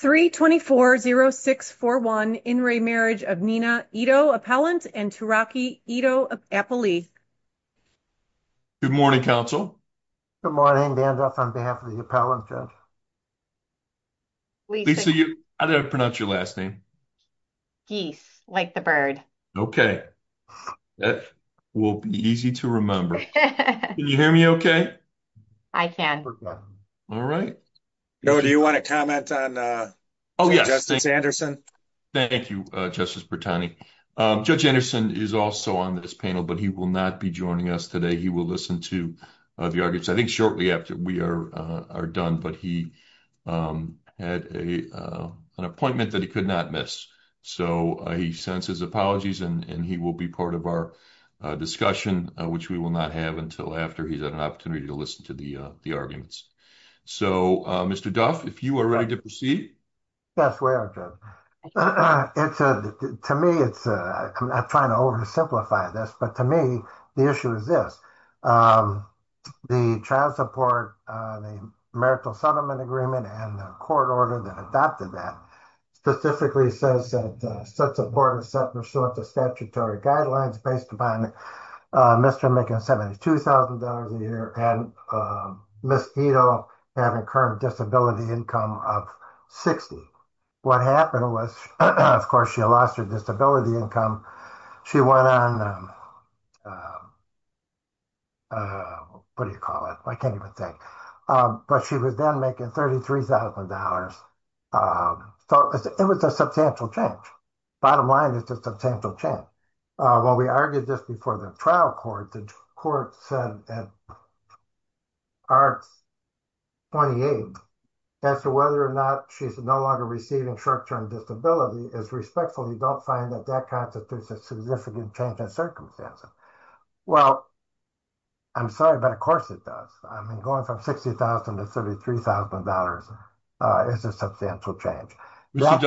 324-0641, In re marriage of Nina Ito Appellant and Turaki Ito Appellee. Good morning, council. Good morning, Dan Duff on behalf of the appellants. Lisa, how did I pronounce your last name? Geese, like the bird. Okay. That will be easy to remember. Can you hear me okay? I can. All right. No, do you want to comment on? Oh, yes, thank you. Thank you. Justice Bertani. Judge Anderson is also on this panel, but he will not be joining us today. He will listen to the arguments. I think shortly after we are are done, but he had a, an appointment that he could not miss. So, he sends his apologies and he will be part of our discussion, which we will not have until after he's had an opportunity to listen to the arguments. So, Mr. Duff, if you are ready to proceed. That's where it's to me, it's trying to oversimplify this, but to me, the issue is this. The child support, the marital settlement agreement and the court order that adopted that. Specifically says that such a board of separate sorts of statutory guidelines based upon Mr. making 72,000 dollars a year and miss, you know, having current disability income of 60. What happened was, of course, she lost her disability income. She went on, what do you call it? I can't even think, but she was then making 33,000 dollars. So, it was a substantial change. Bottom line is just a potential chance. Well, we argued this before the trial court, the court said. Our 28. As to whether or not she's no longer receiving short term disability is respectfully don't find that that constitutes a significant change in circumstances. Well. I'm sorry, but of course, it does. I mean, going from 60,000 to 33,000 dollars is a substantial change. Let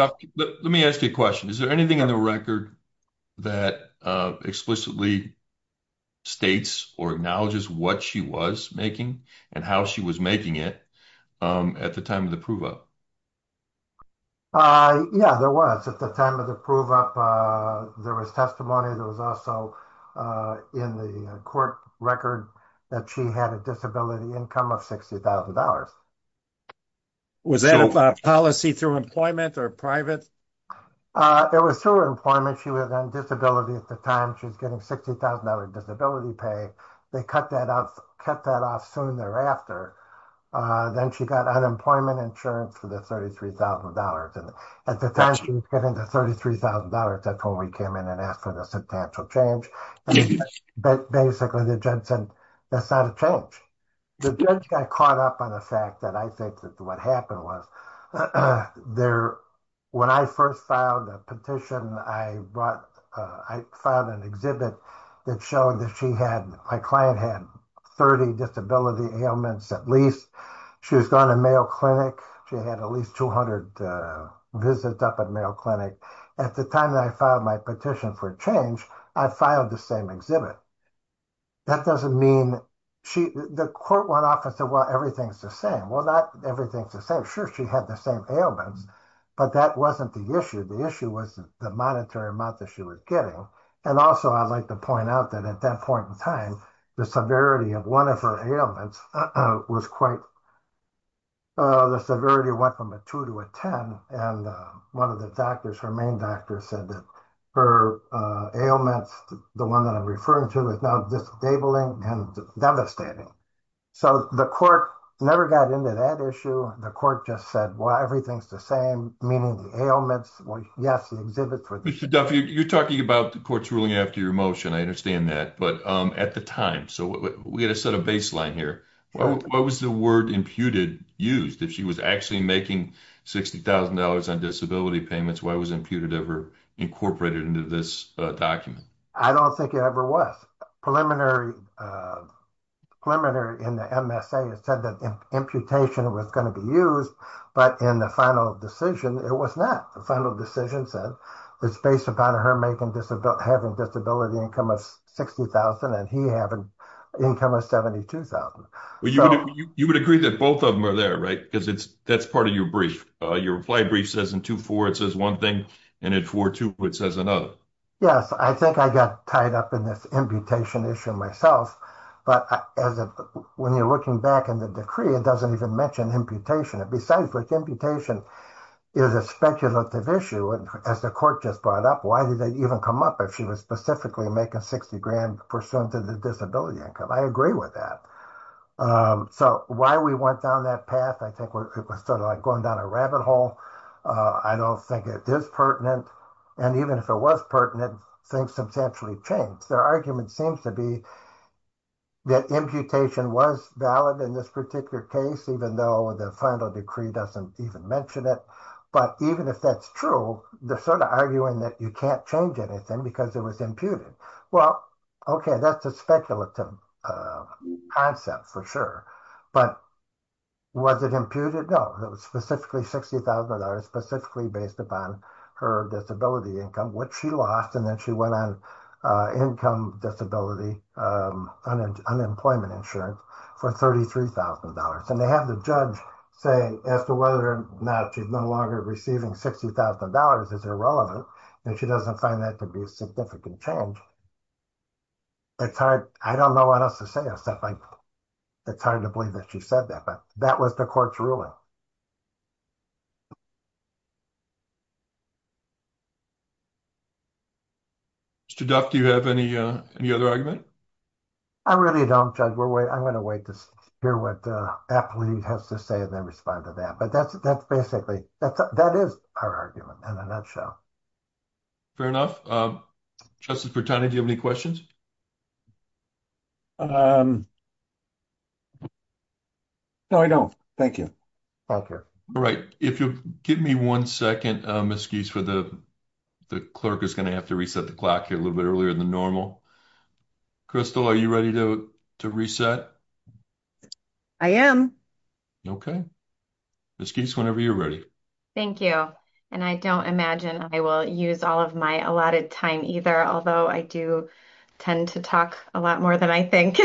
me ask you a question. Is there anything in the record. That explicitly states or acknowledges what she was making and how she was making it at the time of the approval. Yeah, there was at the time of the prove up. There was testimony. There was also in the court record that she had a disability income of 60,000 dollars. Was that a policy through employment or private? It was through employment. She was on disability at the time. She's getting 60,000 dollars disability pay. They cut that off, cut that off soon thereafter. Then she got unemployment insurance for the 33,000 dollars and at the time she was getting the 33,000 dollars. That's when we came in and asked for the substantial change. But basically the judge said, that's not a change. The judge got caught up on the fact that I think that what happened was there. When I first filed a petition, I brought, I filed an exhibit that showed that she had, my client had 30 disability ailments. At least she was gone to Mayo Clinic. She had at least 200 visits up at Mayo Clinic. At the time that I filed my petition for change, I filed the same exhibit. That doesn't mean she, the court went off and said, well, everything's the same. Well, not everything's the same. Sure, she had the same ailments, but that wasn't the issue. The issue was the monetary amount that she was getting. And also I'd like to point out that at that point in time, the severity of one of her ailments was quite, the severity went from a 2 to a 10. And one of the doctors, her main doctor, said that her ailments, the one that I'm referring to, is now disabling and devastating. So the court never got into that issue. The court just said, well, everything's the same, meaning the ailments, well, yes, the exhibits were the same. Mr. Duffy, you're talking about the court's ruling after your motion. I understand that. But at the time, so we had to set a baseline here. What was the word imputed used? If she was actually making $60,000 on disability payments, why was imputed ever incorporated into this document? I don't think it ever was. Preliminary in the MSA, it said that imputation was going to be used, but in the final decision, it was not. The final decision said it's based upon her having disability income of $60,000 and he having income of $72,000. You would agree that both of them are there, right? Because that's part of your brief. Your reply brief says in 2-4, it says one thing, and in 4-2, it says another. Yes, I think I got tied up in this imputation issue myself. But when you're looking back in the decree, it doesn't even mention imputation. Besides, imputation is a speculative issue. As the court just brought up, why did they even come up if she was specifically making $60,000 pursuant to the disability income? I agree with that. So why we went down that path, I think it was sort of like going down a rabbit hole. I don't think it is pertinent. And even if it was pertinent, things substantially changed. Their argument seems to be that imputation was valid in this particular case, even though the final decree doesn't even mention it. But even if that's true, they're sort of arguing that you can't change anything because it was imputed. Well, okay, that's a speculative concept for sure. But was it imputed? No. It was specifically $60,000, specifically based upon her disability income, which she lost, and then she went on income disability, unemployment insurance for $33,000. And they have the judge say, as to whether or not she's no longer receiving $60,000, is irrelevant, and she doesn't find that to be a significant change. It's hard. I don't know what else to say. It's hard to believe that she said that, but that was the court's ruling. Mr. Duff, do you have any other argument? I really don't, Judge. I'm going to wait to hear what the applicant has to say and then respond to that. But that's basically, that is our argument in a nutshell. Fair enough. Justice Bertani, do you have any questions? No, I don't. Thank you. All right, if you'll give me 1 second, Ms. Geese, the clerk is going to have to reset the clock here a little bit earlier than normal. Crystal, are you ready to reset? I am. Okay. Ms. Geese, whenever you're ready. Thank you. And I don't imagine I will use all of my allotted time either, although I do tend to talk a lot more than I think.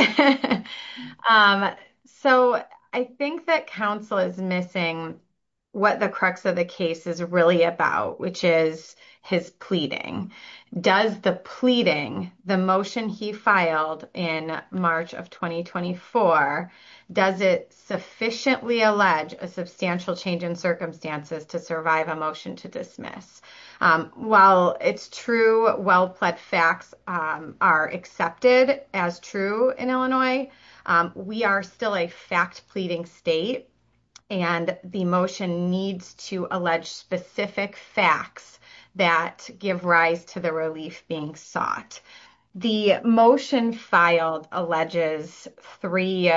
So, I think that counsel is missing what the crux of the case is really about, which is his pleading. Does the pleading, the motion he filed in March of 2024, does it sufficiently allege a substantial change in circumstances to survive a motion to dismiss? While it's true, well-pled facts are accepted as true in Illinois, we are still a fact pleading state and the motion needs to allege specific facts that give rise to the relief being sought. The motion filed alleges three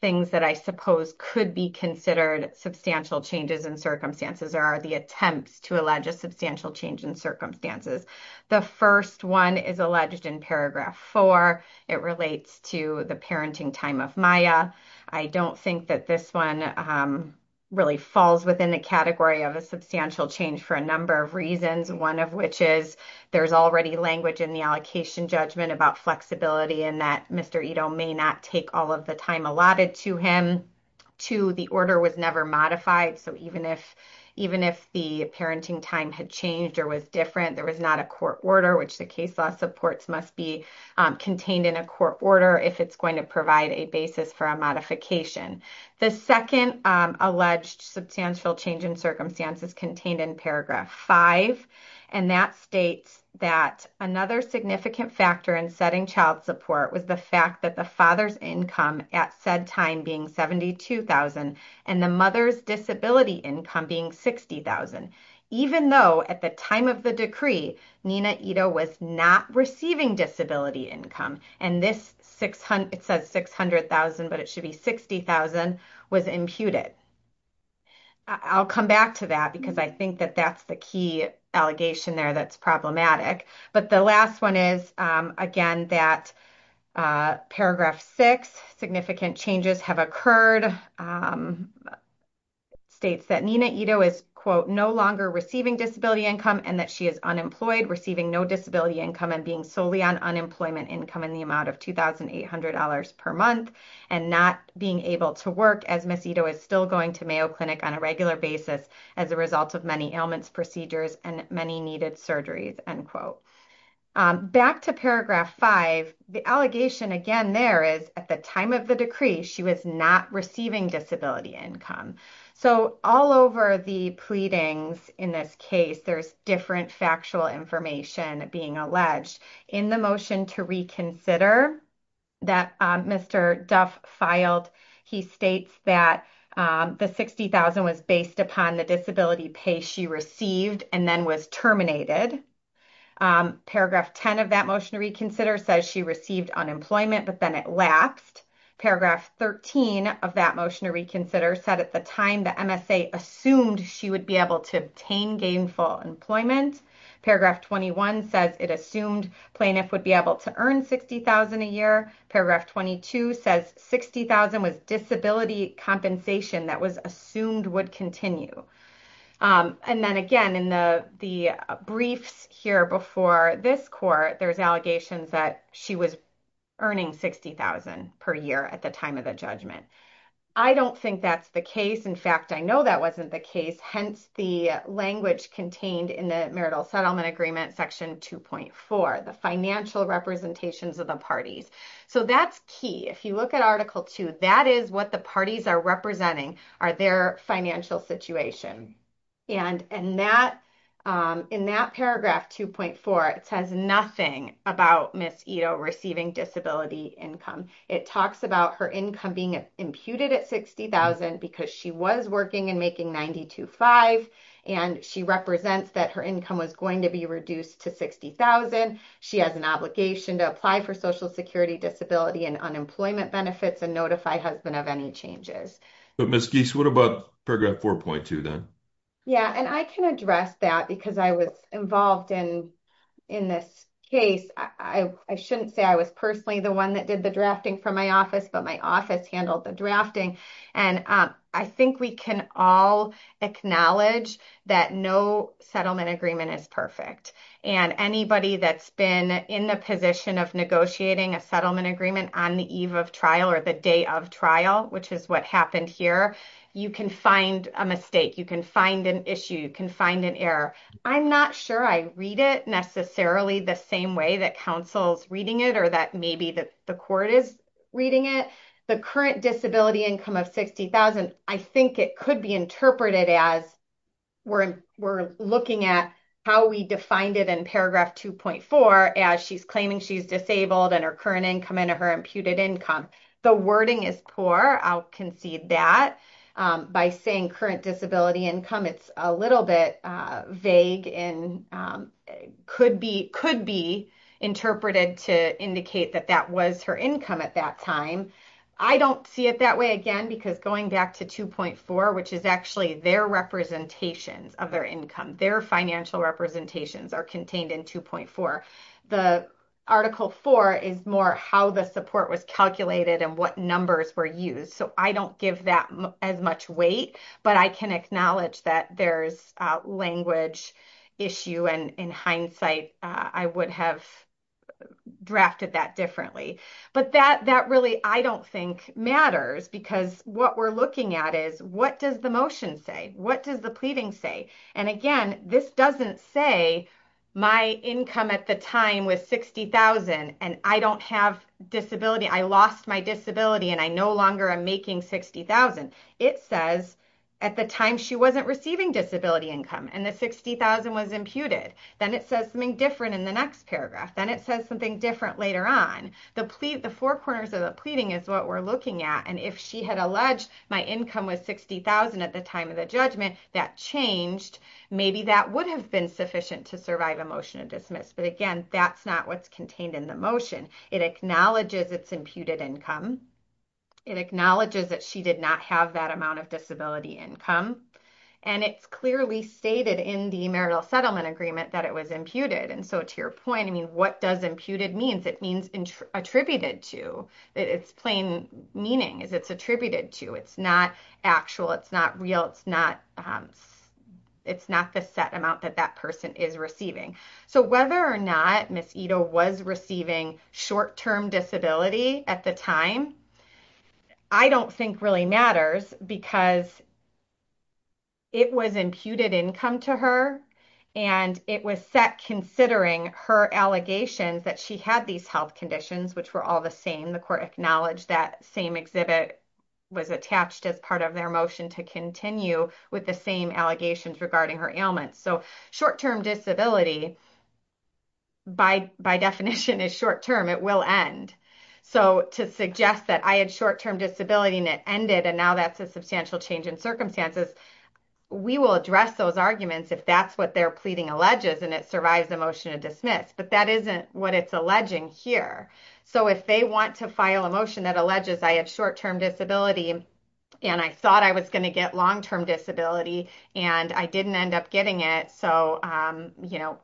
things that I suppose could be considered substantial changes in circumstances, or are the attempts to allege a substantial change in circumstances. The first one is alleged in paragraph 4. It relates to the parenting time of Maya. I don't think that this one really falls within the category of a substantial change for a number of reasons, one of which is there's already language in the allocation judgment about flexibility and that Mr. Ito may not take all of the time allotted to him. Two, the order was never modified. So, even if the parenting time had changed or was different, there was not a court order, which the case law supports must be contained in a court order if it's going to provide a basis for a modification. The second alleged substantial change in circumstances contained in paragraph 5, and that states that another significant factor in setting child support was the fact that the father's income at said time being $72,000 and the mother's disability income being $60,000. Even though at the time of the decree, Nina Ito was not receiving disability income and this it says $600,000, but it should be $60,000 was imputed. I'll come back to that because I think that that's the key allegation there that's problematic. But the last one is, again, that paragraph 6, significant changes have occurred. It states that Nina Ito is, quote, no longer receiving disability income and that she is unemployed, receiving no disability income, and being solely on unemployment income in the amount of $2,800 per month and not being able to work as Ms. Ito is still going to Mayo Clinic on a regular basis as a result of many ailments, procedures, and many needed surgeries, end quote. Back to paragraph 5, the allegation again there is at the time of the decree, she was not receiving disability income. So, all over the pleadings in this case, there's different factual information being alleged. In the motion to reconsider that Mr. Duff filed, he states that the $60,000 was based upon the disability pay she received and then was terminated. Paragraph 10 of that motion to reconsider says she received unemployment, but then it lapsed. Paragraph 13 of that motion to reconsider said at the time the MSA assumed she would be able to obtain gainful employment. Paragraph 21 says it assumed plaintiff would be able to earn $60,000 a year. Paragraph 22 says $60,000 was disability compensation that was assumed would continue. And then again, in the briefs here before this court, there's allegations that she was earning $60,000 per year at the time of the judgment. I don't think that's the case. In fact, I know that wasn't the case. Hence, the language contained in the marital settlement agreement section 2.4, the financial representations of the parties. So, that's key. If you look at Article 2, that is what the parties are representing are their financial situation. And in that paragraph 2.4, it says nothing about Ms. Ito receiving disability income. It talks about her income being imputed at $60,000 because she was working and making $92,500. And she represents that her income was going to be reduced to $60,000. She has an obligation to apply for social security disability and unemployment benefits and notify husband of any changes. But Ms. Geese, what about paragraph 4.2 then? Yeah, and I can address that because I was involved in this case. I shouldn't say I was personally the one that did the drafting from my office, but my office handled the drafting. And I think we can all acknowledge that no settlement agreement is perfect. And anybody that's been in the position of negotiating a settlement agreement on the eve of trial or the day of trial, which is what happened here, you can find a mistake. You can find an issue. You can find an error. I'm not sure I read it necessarily the same way that counsel's reading it or that maybe the court is reading it. The current disability income of $60,000, I think it could be interpreted as we're looking at how we defined it in paragraph 2.4 as she's claiming she's disabled and her current income and her by saying current disability income, it's a little bit vague and could be interpreted to indicate that that was her income at that time. I don't see it that way again because going back to 2.4, which is actually their representations of their income, their financial representations are contained in 2.4. The article 4 is more how the support was calculated and what numbers were used. So I don't give that as much weight, but I can acknowledge that there's a language issue. And in hindsight, I would have drafted that differently. But that really, I don't think matters because what we're looking at is what does the motion say? What does the pleading say? And again, this doesn't say my income at the time was $60,000 and I don't have disability. I lost my disability and I no longer am making $60,000. It says at the time she wasn't receiving disability income and the $60,000 was imputed. Then it says something different in the next paragraph. Then it says something different later on. The four corners of the pleading is what we're looking at. And if she had alleged my income was $60,000 at the time of the judgment, that changed. Maybe that would have been sufficient to survive a motion of dismiss. But again, that's not what's contained in the motion. It acknowledges it's imputed income. It acknowledges that she did not have that amount of disability income. And it's clearly stated in the marital settlement agreement that it was imputed. And so to your point, I mean, what does imputed means? It means attributed to. It's plain meaning is it's attributed to. It's not actual. It's not real. It's not it's not the set amount that that person is receiving. So whether or not Ms. Ito was receiving short-term disability at the time, I don't think really matters because it was imputed income to her and it was set considering her allegations that she had these health conditions, which were all the same. The court acknowledged that same exhibit was attached as part of their motion to continue with the same allegations regarding her ailments. So short-term disability by definition is short-term. It will end. So to suggest that I had short-term disability and it ended and now that's a substantial change in circumstances, we will address those arguments if that's what they're pleading alleges and it survives a motion of dismiss. But that isn't what it's alleging here. So if they want to file a motion that I had short-term disability and I thought I was going to get long-term disability and I didn't end up getting it. So, you know,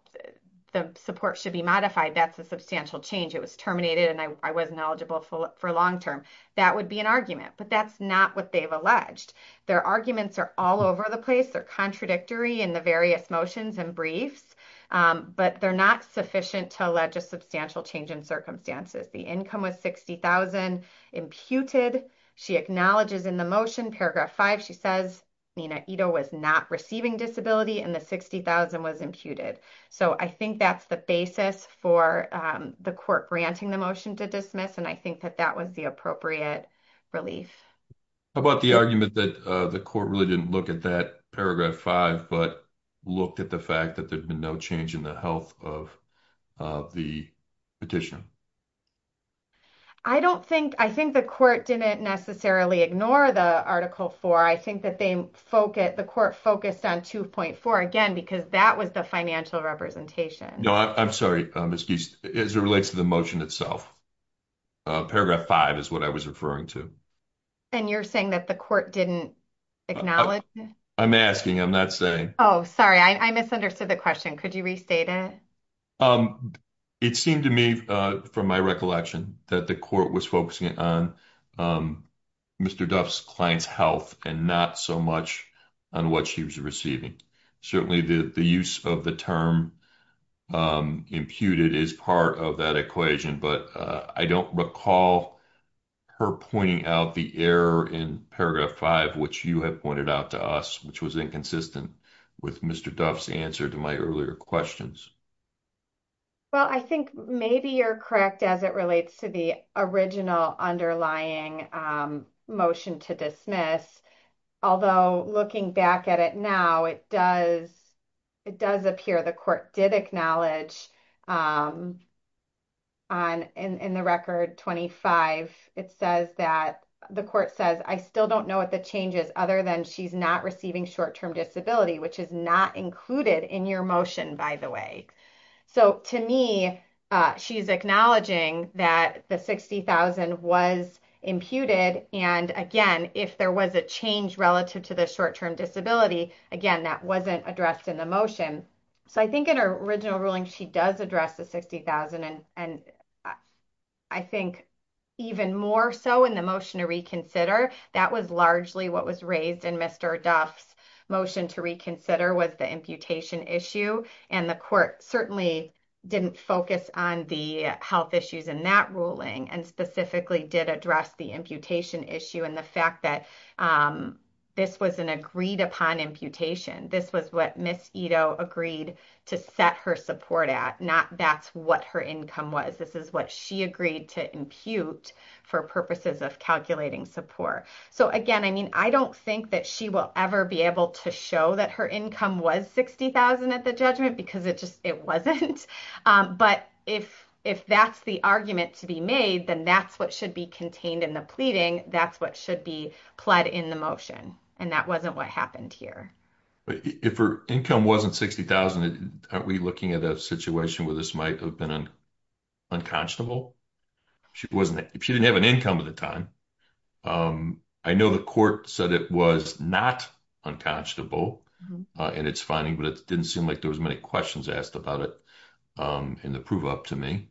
the support should be modified. That's a substantial change. It was terminated and I wasn't eligible for a long-term. That would be an argument, but that's not what they've alleged. Their arguments are all over the place. They're contradictory in the various motions and briefs, but they're not sufficient to substantial change in circumstances. The income was $60,000 imputed. She acknowledges in the motion paragraph five, she says Nina Ito was not receiving disability and the $60,000 was imputed. So I think that's the basis for the court granting the motion to dismiss. And I think that that was the appropriate relief. How about the argument that the court really didn't look at that paragraph five, but looked at the fact that there'd been no change in the health of the petition? I don't think, I think the court didn't necessarily ignore the article four. I think that they focus, the court focused on 2.4 again, because that was the financial representation. No, I'm sorry, Ms. Geist, as it relates to the motion itself. Paragraph five is what I was referring to. And you're saying that the court didn't acknowledge it? I'm asking, I'm not saying. Oh, sorry. I misunderstood the question. Could you restate it? It seemed to me from my recollection that the court was focusing on Mr. Duff's client's health and not so much on what she was receiving. Certainly the use of the term imputed is part of that equation, but I don't recall her pointing out the error in paragraph five, which you have with Mr. Duff's answer to my earlier questions. Well, I think maybe you're correct as it relates to the original underlying motion to dismiss. Although looking back at it now, it does, it does appear the court did acknowledge on, in the record 25, it says that the court says, I still don't know what the change is other than she's not receiving short-term disability, which is not included in your motion, by the way. So to me, she's acknowledging that the 60,000 was imputed. And again, if there was a change relative to the short-term disability, again, that wasn't addressed in the motion. So I think in her original ruling, she does address the 60,000. And I think even more so in the motion to reconsider, that was largely what was raised in Mr. Duff's motion to reconsider was the imputation issue. And the court certainly didn't focus on the health issues in that ruling and specifically did address the imputation issue and the fact that this was an agreed upon imputation. This was what Ms. Ito agreed to set her support at, not that's what her income was. This is what she agreed to impute for purposes of calculating support. So again, I mean, I don't think that she will ever be able to show that her income was 60,000 at the judgment because it just, it wasn't. But if that's the argument to be made, then that's what should be contained in the pleading. That's what should be pled in the motion. And that wasn't what happened here. But if her income wasn't 60,000, aren't we looking at a situation where this might have been unconscionable? If she didn't have an income at the time. I know the court said it was not unconscionable in its finding, but it didn't seem like there was many questions asked about it in the prove up to me.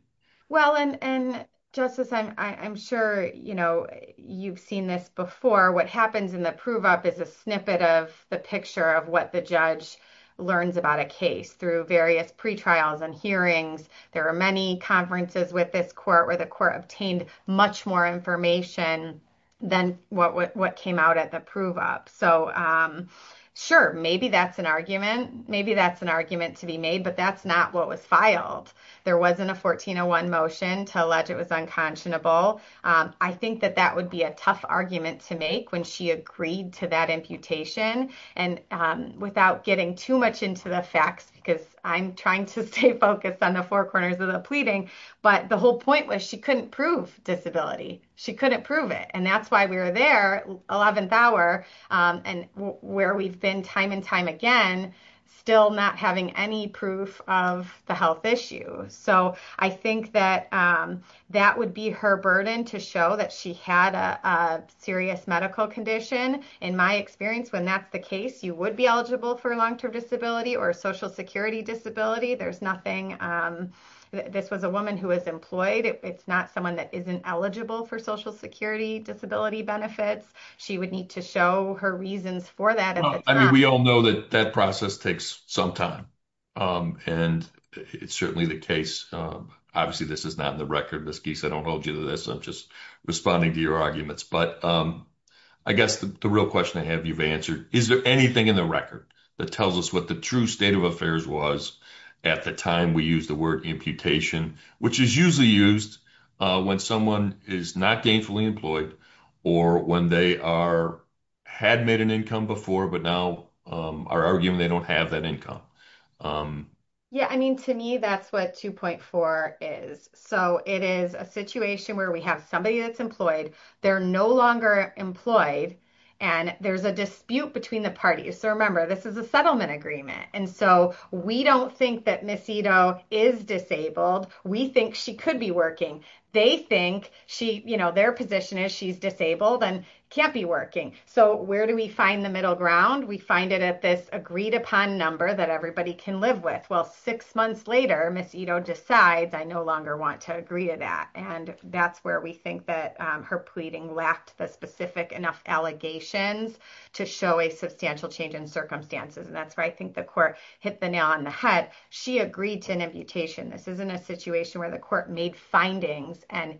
Well, and Justice, I'm sure you've seen this before. What happens in the prove up is a snippet of the picture of what the judge learns about a case through various pre-trials and hearings. There are many conferences with this court where the court obtained much more information than what came out at the prove up. So sure, maybe that's an argument. Maybe that's an argument to be made, but that's not what was filed. There wasn't a 1401 motion to allege it was unconscionable. I think that that would be a tough argument to make when she agreed to that imputation and without getting too much into the I'm trying to stay focused on the four corners of the pleading, but the whole point was she couldn't prove disability. She couldn't prove it. And that's why we were there 11th hour and where we've been time and time again, still not having any proof of the health issue. So I think that that would be her burden to show that she had a serious medical condition. In my experience, when that's the case, you would be eligible for a long-term disability or a social security disability. There's nothing. This was a woman who was employed. It's not someone that isn't eligible for social security disability benefits. She would need to show her reasons for that. I mean, we all know that that process takes some time and it's certainly the case. Obviously, this is not in the record, Ms. Geese. I don't hold you to this. I'm just responding to your but I guess the real question I have you've answered, is there anything in the record that tells us what the true state of affairs was at the time we use the word imputation, which is usually used when someone is not gainfully employed or when they are, had made an income before, but now are arguing they don't have that income. Yeah. I mean, to me, that's what 2.4 is. So it is a situation where we have somebody that's they're no longer employed and there's a dispute between the parties. So remember, this is a settlement agreement. And so we don't think that Ms. Ito is disabled. We think she could be working. They think their position is she's disabled and can't be working. So where do we find the middle ground? We find it at this agreed upon number that everybody can live with. Well, six months later, Ms. Ito decides I no longer want to agree to that. And that's where we think that her pleading lacked the specific enough allegations to show a substantial change in circumstances. And that's where I think the court hit the nail on the head. She agreed to an imputation. This isn't a situation where the court made findings and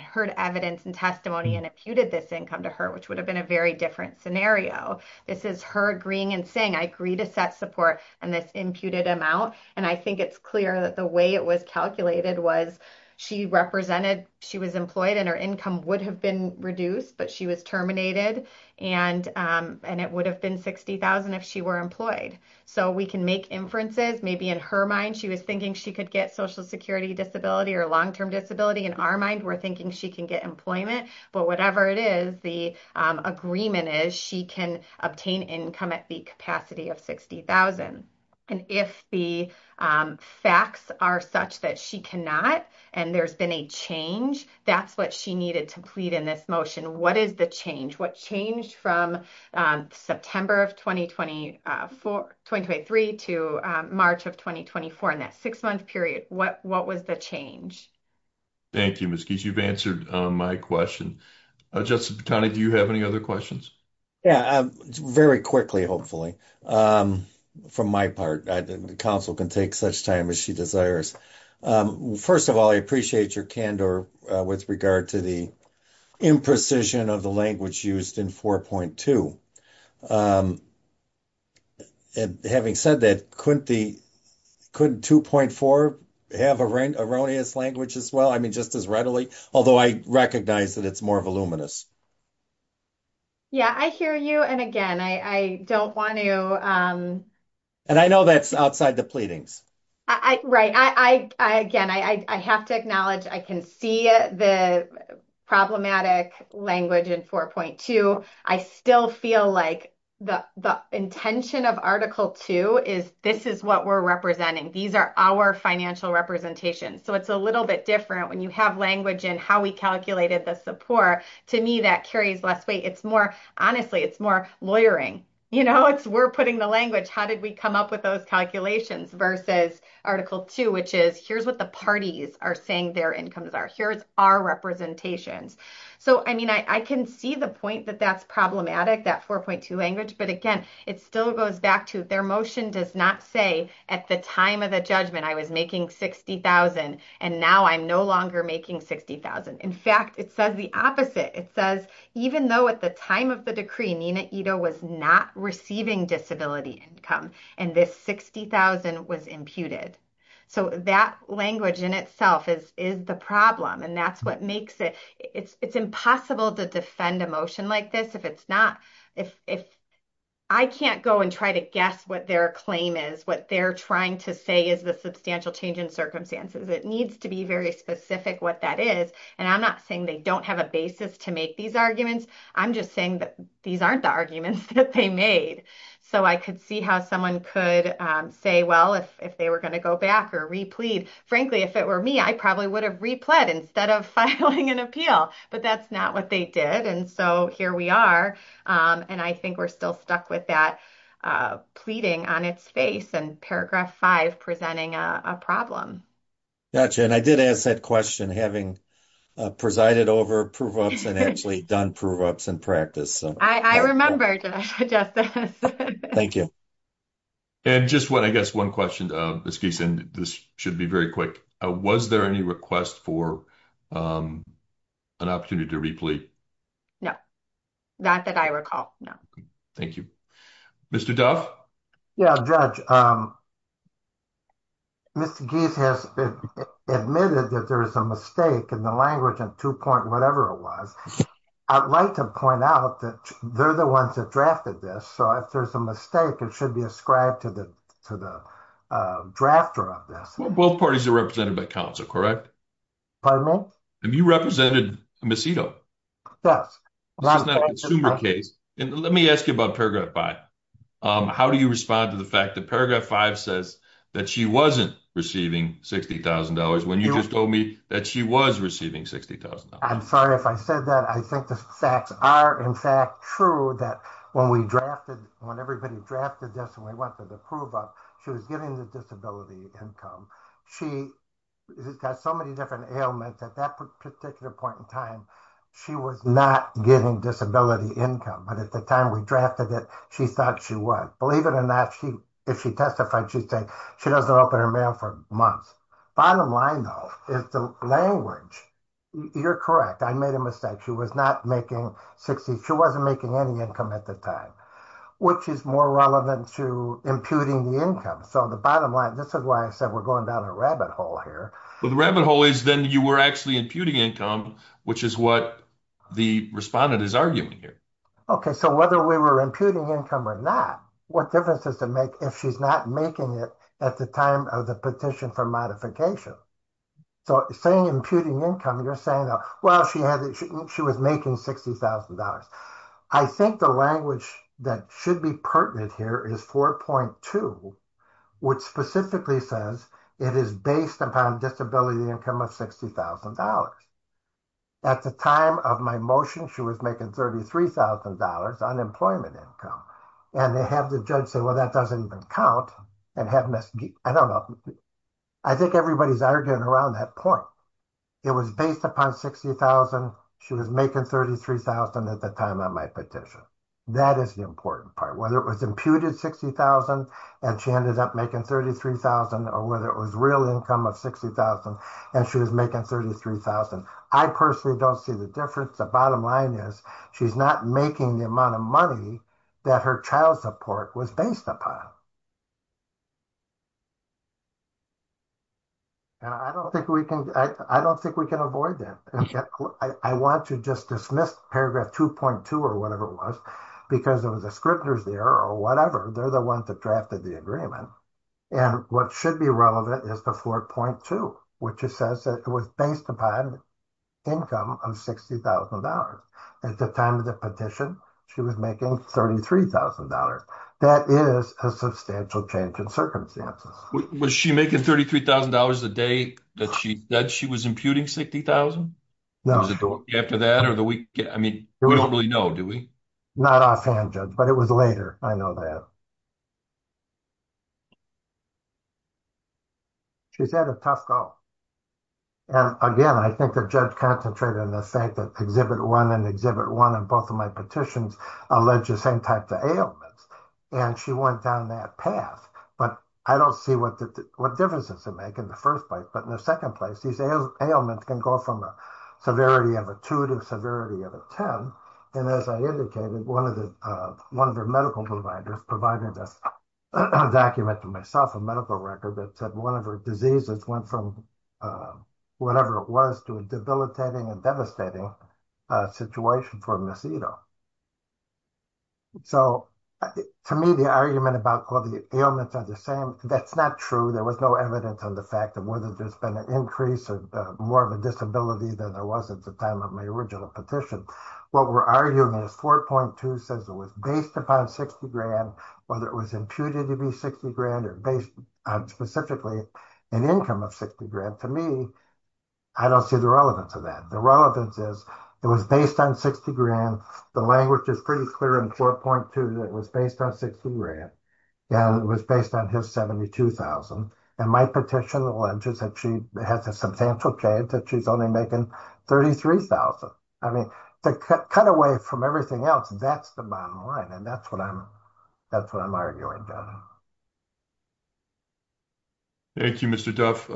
heard evidence and testimony and imputed this income to her, which would have been a very different scenario. This is her agreeing and saying, I agree to set support and this imputed amount. And I think it's it was calculated was she represented she was employed and her income would have been reduced, but she was terminated. And it would have been 60,000 if she were employed. So we can make inferences. Maybe in her mind, she was thinking she could get social security disability or long term disability. In our mind, we're thinking she can get employment. But whatever it is, agreement is, she can obtain income at the capacity of 60,000. And if the facts are such that she cannot, and there's been a change, that's what she needed to plead in this motion. What is the change? What changed from September of 2024, 2023 to March of 2024 in that six month period? What was the change? Thank you, Ms. Gies. You've answered my question. Just kind of, do you have any other questions? Yeah, very quickly, hopefully. From my part, the council can take such time as she desires. First of all, I appreciate your candor with regard to the imprecision of the language used in 4.2. And having said that, couldn't 2.4 have erroneous language as well? I mean, just as readily, although I recognize that it's more voluminous. Yeah, I hear you. And again, I don't want to... And I know that's outside the pleadings. Right. Again, I have to acknowledge, I can see the problematic language in 4.2. I still feel like the intention of Article 2 is, this is what we're representing. These are our financial representations. So it's a little bit different when you have language in how we calculated the support. To me, that carries less weight. It's more, honestly, it's more lawyering. It's we're putting the language. How did we come up with those calculations versus Article 2, which is, here's what the parties are saying their incomes are. Here's our representations. So, I mean, I can see the point that that's problematic, that 4.2 language. But again, it still goes back to their motion does not say at the time of the judgment, I was making 60,000 and now I'm no longer making 60,000. In fact, it says the opposite. It says, even though at the time of the decree, Nina Ito was not receiving disability income and this 60,000 was imputed. So that language in itself is the problem. And that's what makes it, it's impossible to defend a motion like this. If it's not, I can't go and try to guess what their claim is, what they're trying to say is the substantial change in circumstances. It needs to be very specific what that is. And I'm not saying they don't have a basis to make these arguments. I'm just saying that these aren't the arguments that they made. So I could see how someone could say, well, if they were going to go back or replete, frankly, if it were me, I probably would have replet instead of filing an appeal, but that's not what they did. And so here we are. And I think we're still stuck with that pleading on its face and paragraph five presenting a problem. Gotcha. And I did ask that question, having presided over prove-ups and actually done prove-ups in practice. I remembered that. Thank you. And just one, I guess one question, Ms. Gieson, this should be very quick. Was there any request for an opportunity to replete? No, not that I recall. No. Thank you. Mr. Duff? Yeah, Judge. Mr. Gieson has admitted that there is a mistake in the language in two point, whatever it was, I'd like to point out that they're the ones that drafted this. So if there's a mistake, it should be ascribed to the drafter of this. Well, both parties are represented by counsel, correct? Pardon me? Have you represented Ms. Ito? Yes. This is not a consumer case. Let me ask you about paragraph five. How do you respond to the fact that paragraph five says that she wasn't receiving $60,000 when you just told me that she was receiving $60,000? I'm sorry if I said that. I think the facts are in fact true that when we drafted, when everybody drafted this and we went to the prove-up, she was getting the disability income. She has got so many different ailments at that particular point in time, she was not getting disability income. But at the time we drafted it, she thought she was. Believe it or not, if she testified, she said she doesn't open her mail for months. Bottom line, though, is the language. You're correct. I made a mistake. She was not making $60,000. She wasn't making any income at the time, which is more relevant to imputing the income. So the bottom line, this is why I said we're going down a rabbit hole here. Well, the rabbit hole is then you were actually imputing income, which is what the respondent is arguing here. Okay. So whether we were imputing income or not, what difference does it make if she's not making it at the time of the petition for modification? So saying imputing income, you're saying, well, she was making $60,000. I think the language that should be pertinent here is 4.2, which specifically says it is based upon disability income of $60,000. At the time of my motion, she was making $33,000 unemployment income. And they have the judge say, well, that doesn't even count. I don't know. I think everybody's arguing around that point. It was based upon $60,000. She was making $33,000 at the time of my petition. That is the important part. Whether it was imputed $60,000 and she ended up making $33,000 or whether it was real income of $60,000 and she was making $33,000. I personally don't see the difference. The bottom line is she's not making the amount of money that her child support was based upon. And I don't think we can, I don't think we can avoid that. I want to just dismiss paragraph 2.2 or whatever it was, because it was a scrivener's there or whatever. They're the ones that drafted the agreement. And what should be relevant is the 4.2, which says that it was based upon income of $60,000. At the time of the petition, she was making $33,000. That is a substantial change in circumstances. Was she making $33,000 the day that she said she was imputing $60,000? No. After that or the week? I mean, we don't really know, do we? Not offhand judge, but it was later. I know that. She's had a tough go. And again, I think the judge concentrated on the fact that Exhibit 1 and Exhibit 1 in both of my petitions allege the same type of ailments. And she went down that path, but I don't see what differences it make in the first place. But in the second place, these ailments can go from a severity of a 2 to a severity of a 10. And as I indicated, one of her medical providers provided a document to myself, a medical record that said one of her diseases went from whatever it was to a debilitating and devastating situation for Ms. Ito. So to me, the argument about all the ailments are the same, that's not true. There was no evidence on the fact of whether there's been an increase or more of a disability than there was at the time of my original petition. What we're arguing is 4.2 says it was based upon 60 grand, whether it was imputed to be 60 grand or based on specifically an income of 60 grand. To me, I don't see the relevance of that. The relevance is it was based on 60 grand. The language is pretty clear in 4.2 that it was based on 60 grand. And it was based on his 72,000. And my petition alleges that she has a substantial chance that she's only making 33,000. I mean, to cut away from everything else, that's the bottom line. And that's what I'm arguing. Thank you, Mr. Duff.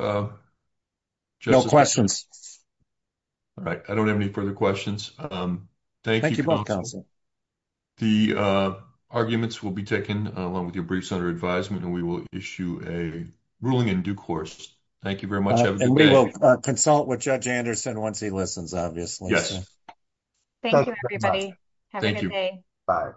No questions. All right. I don't have any further questions. Thank you. The arguments will be taken along with your briefs under advisement, and we will issue a ruling in due course. Thank you very much. And we will consult with Judge Anderson once he listens, obviously. Yes. Thank you, everybody. Have a good day. Bye.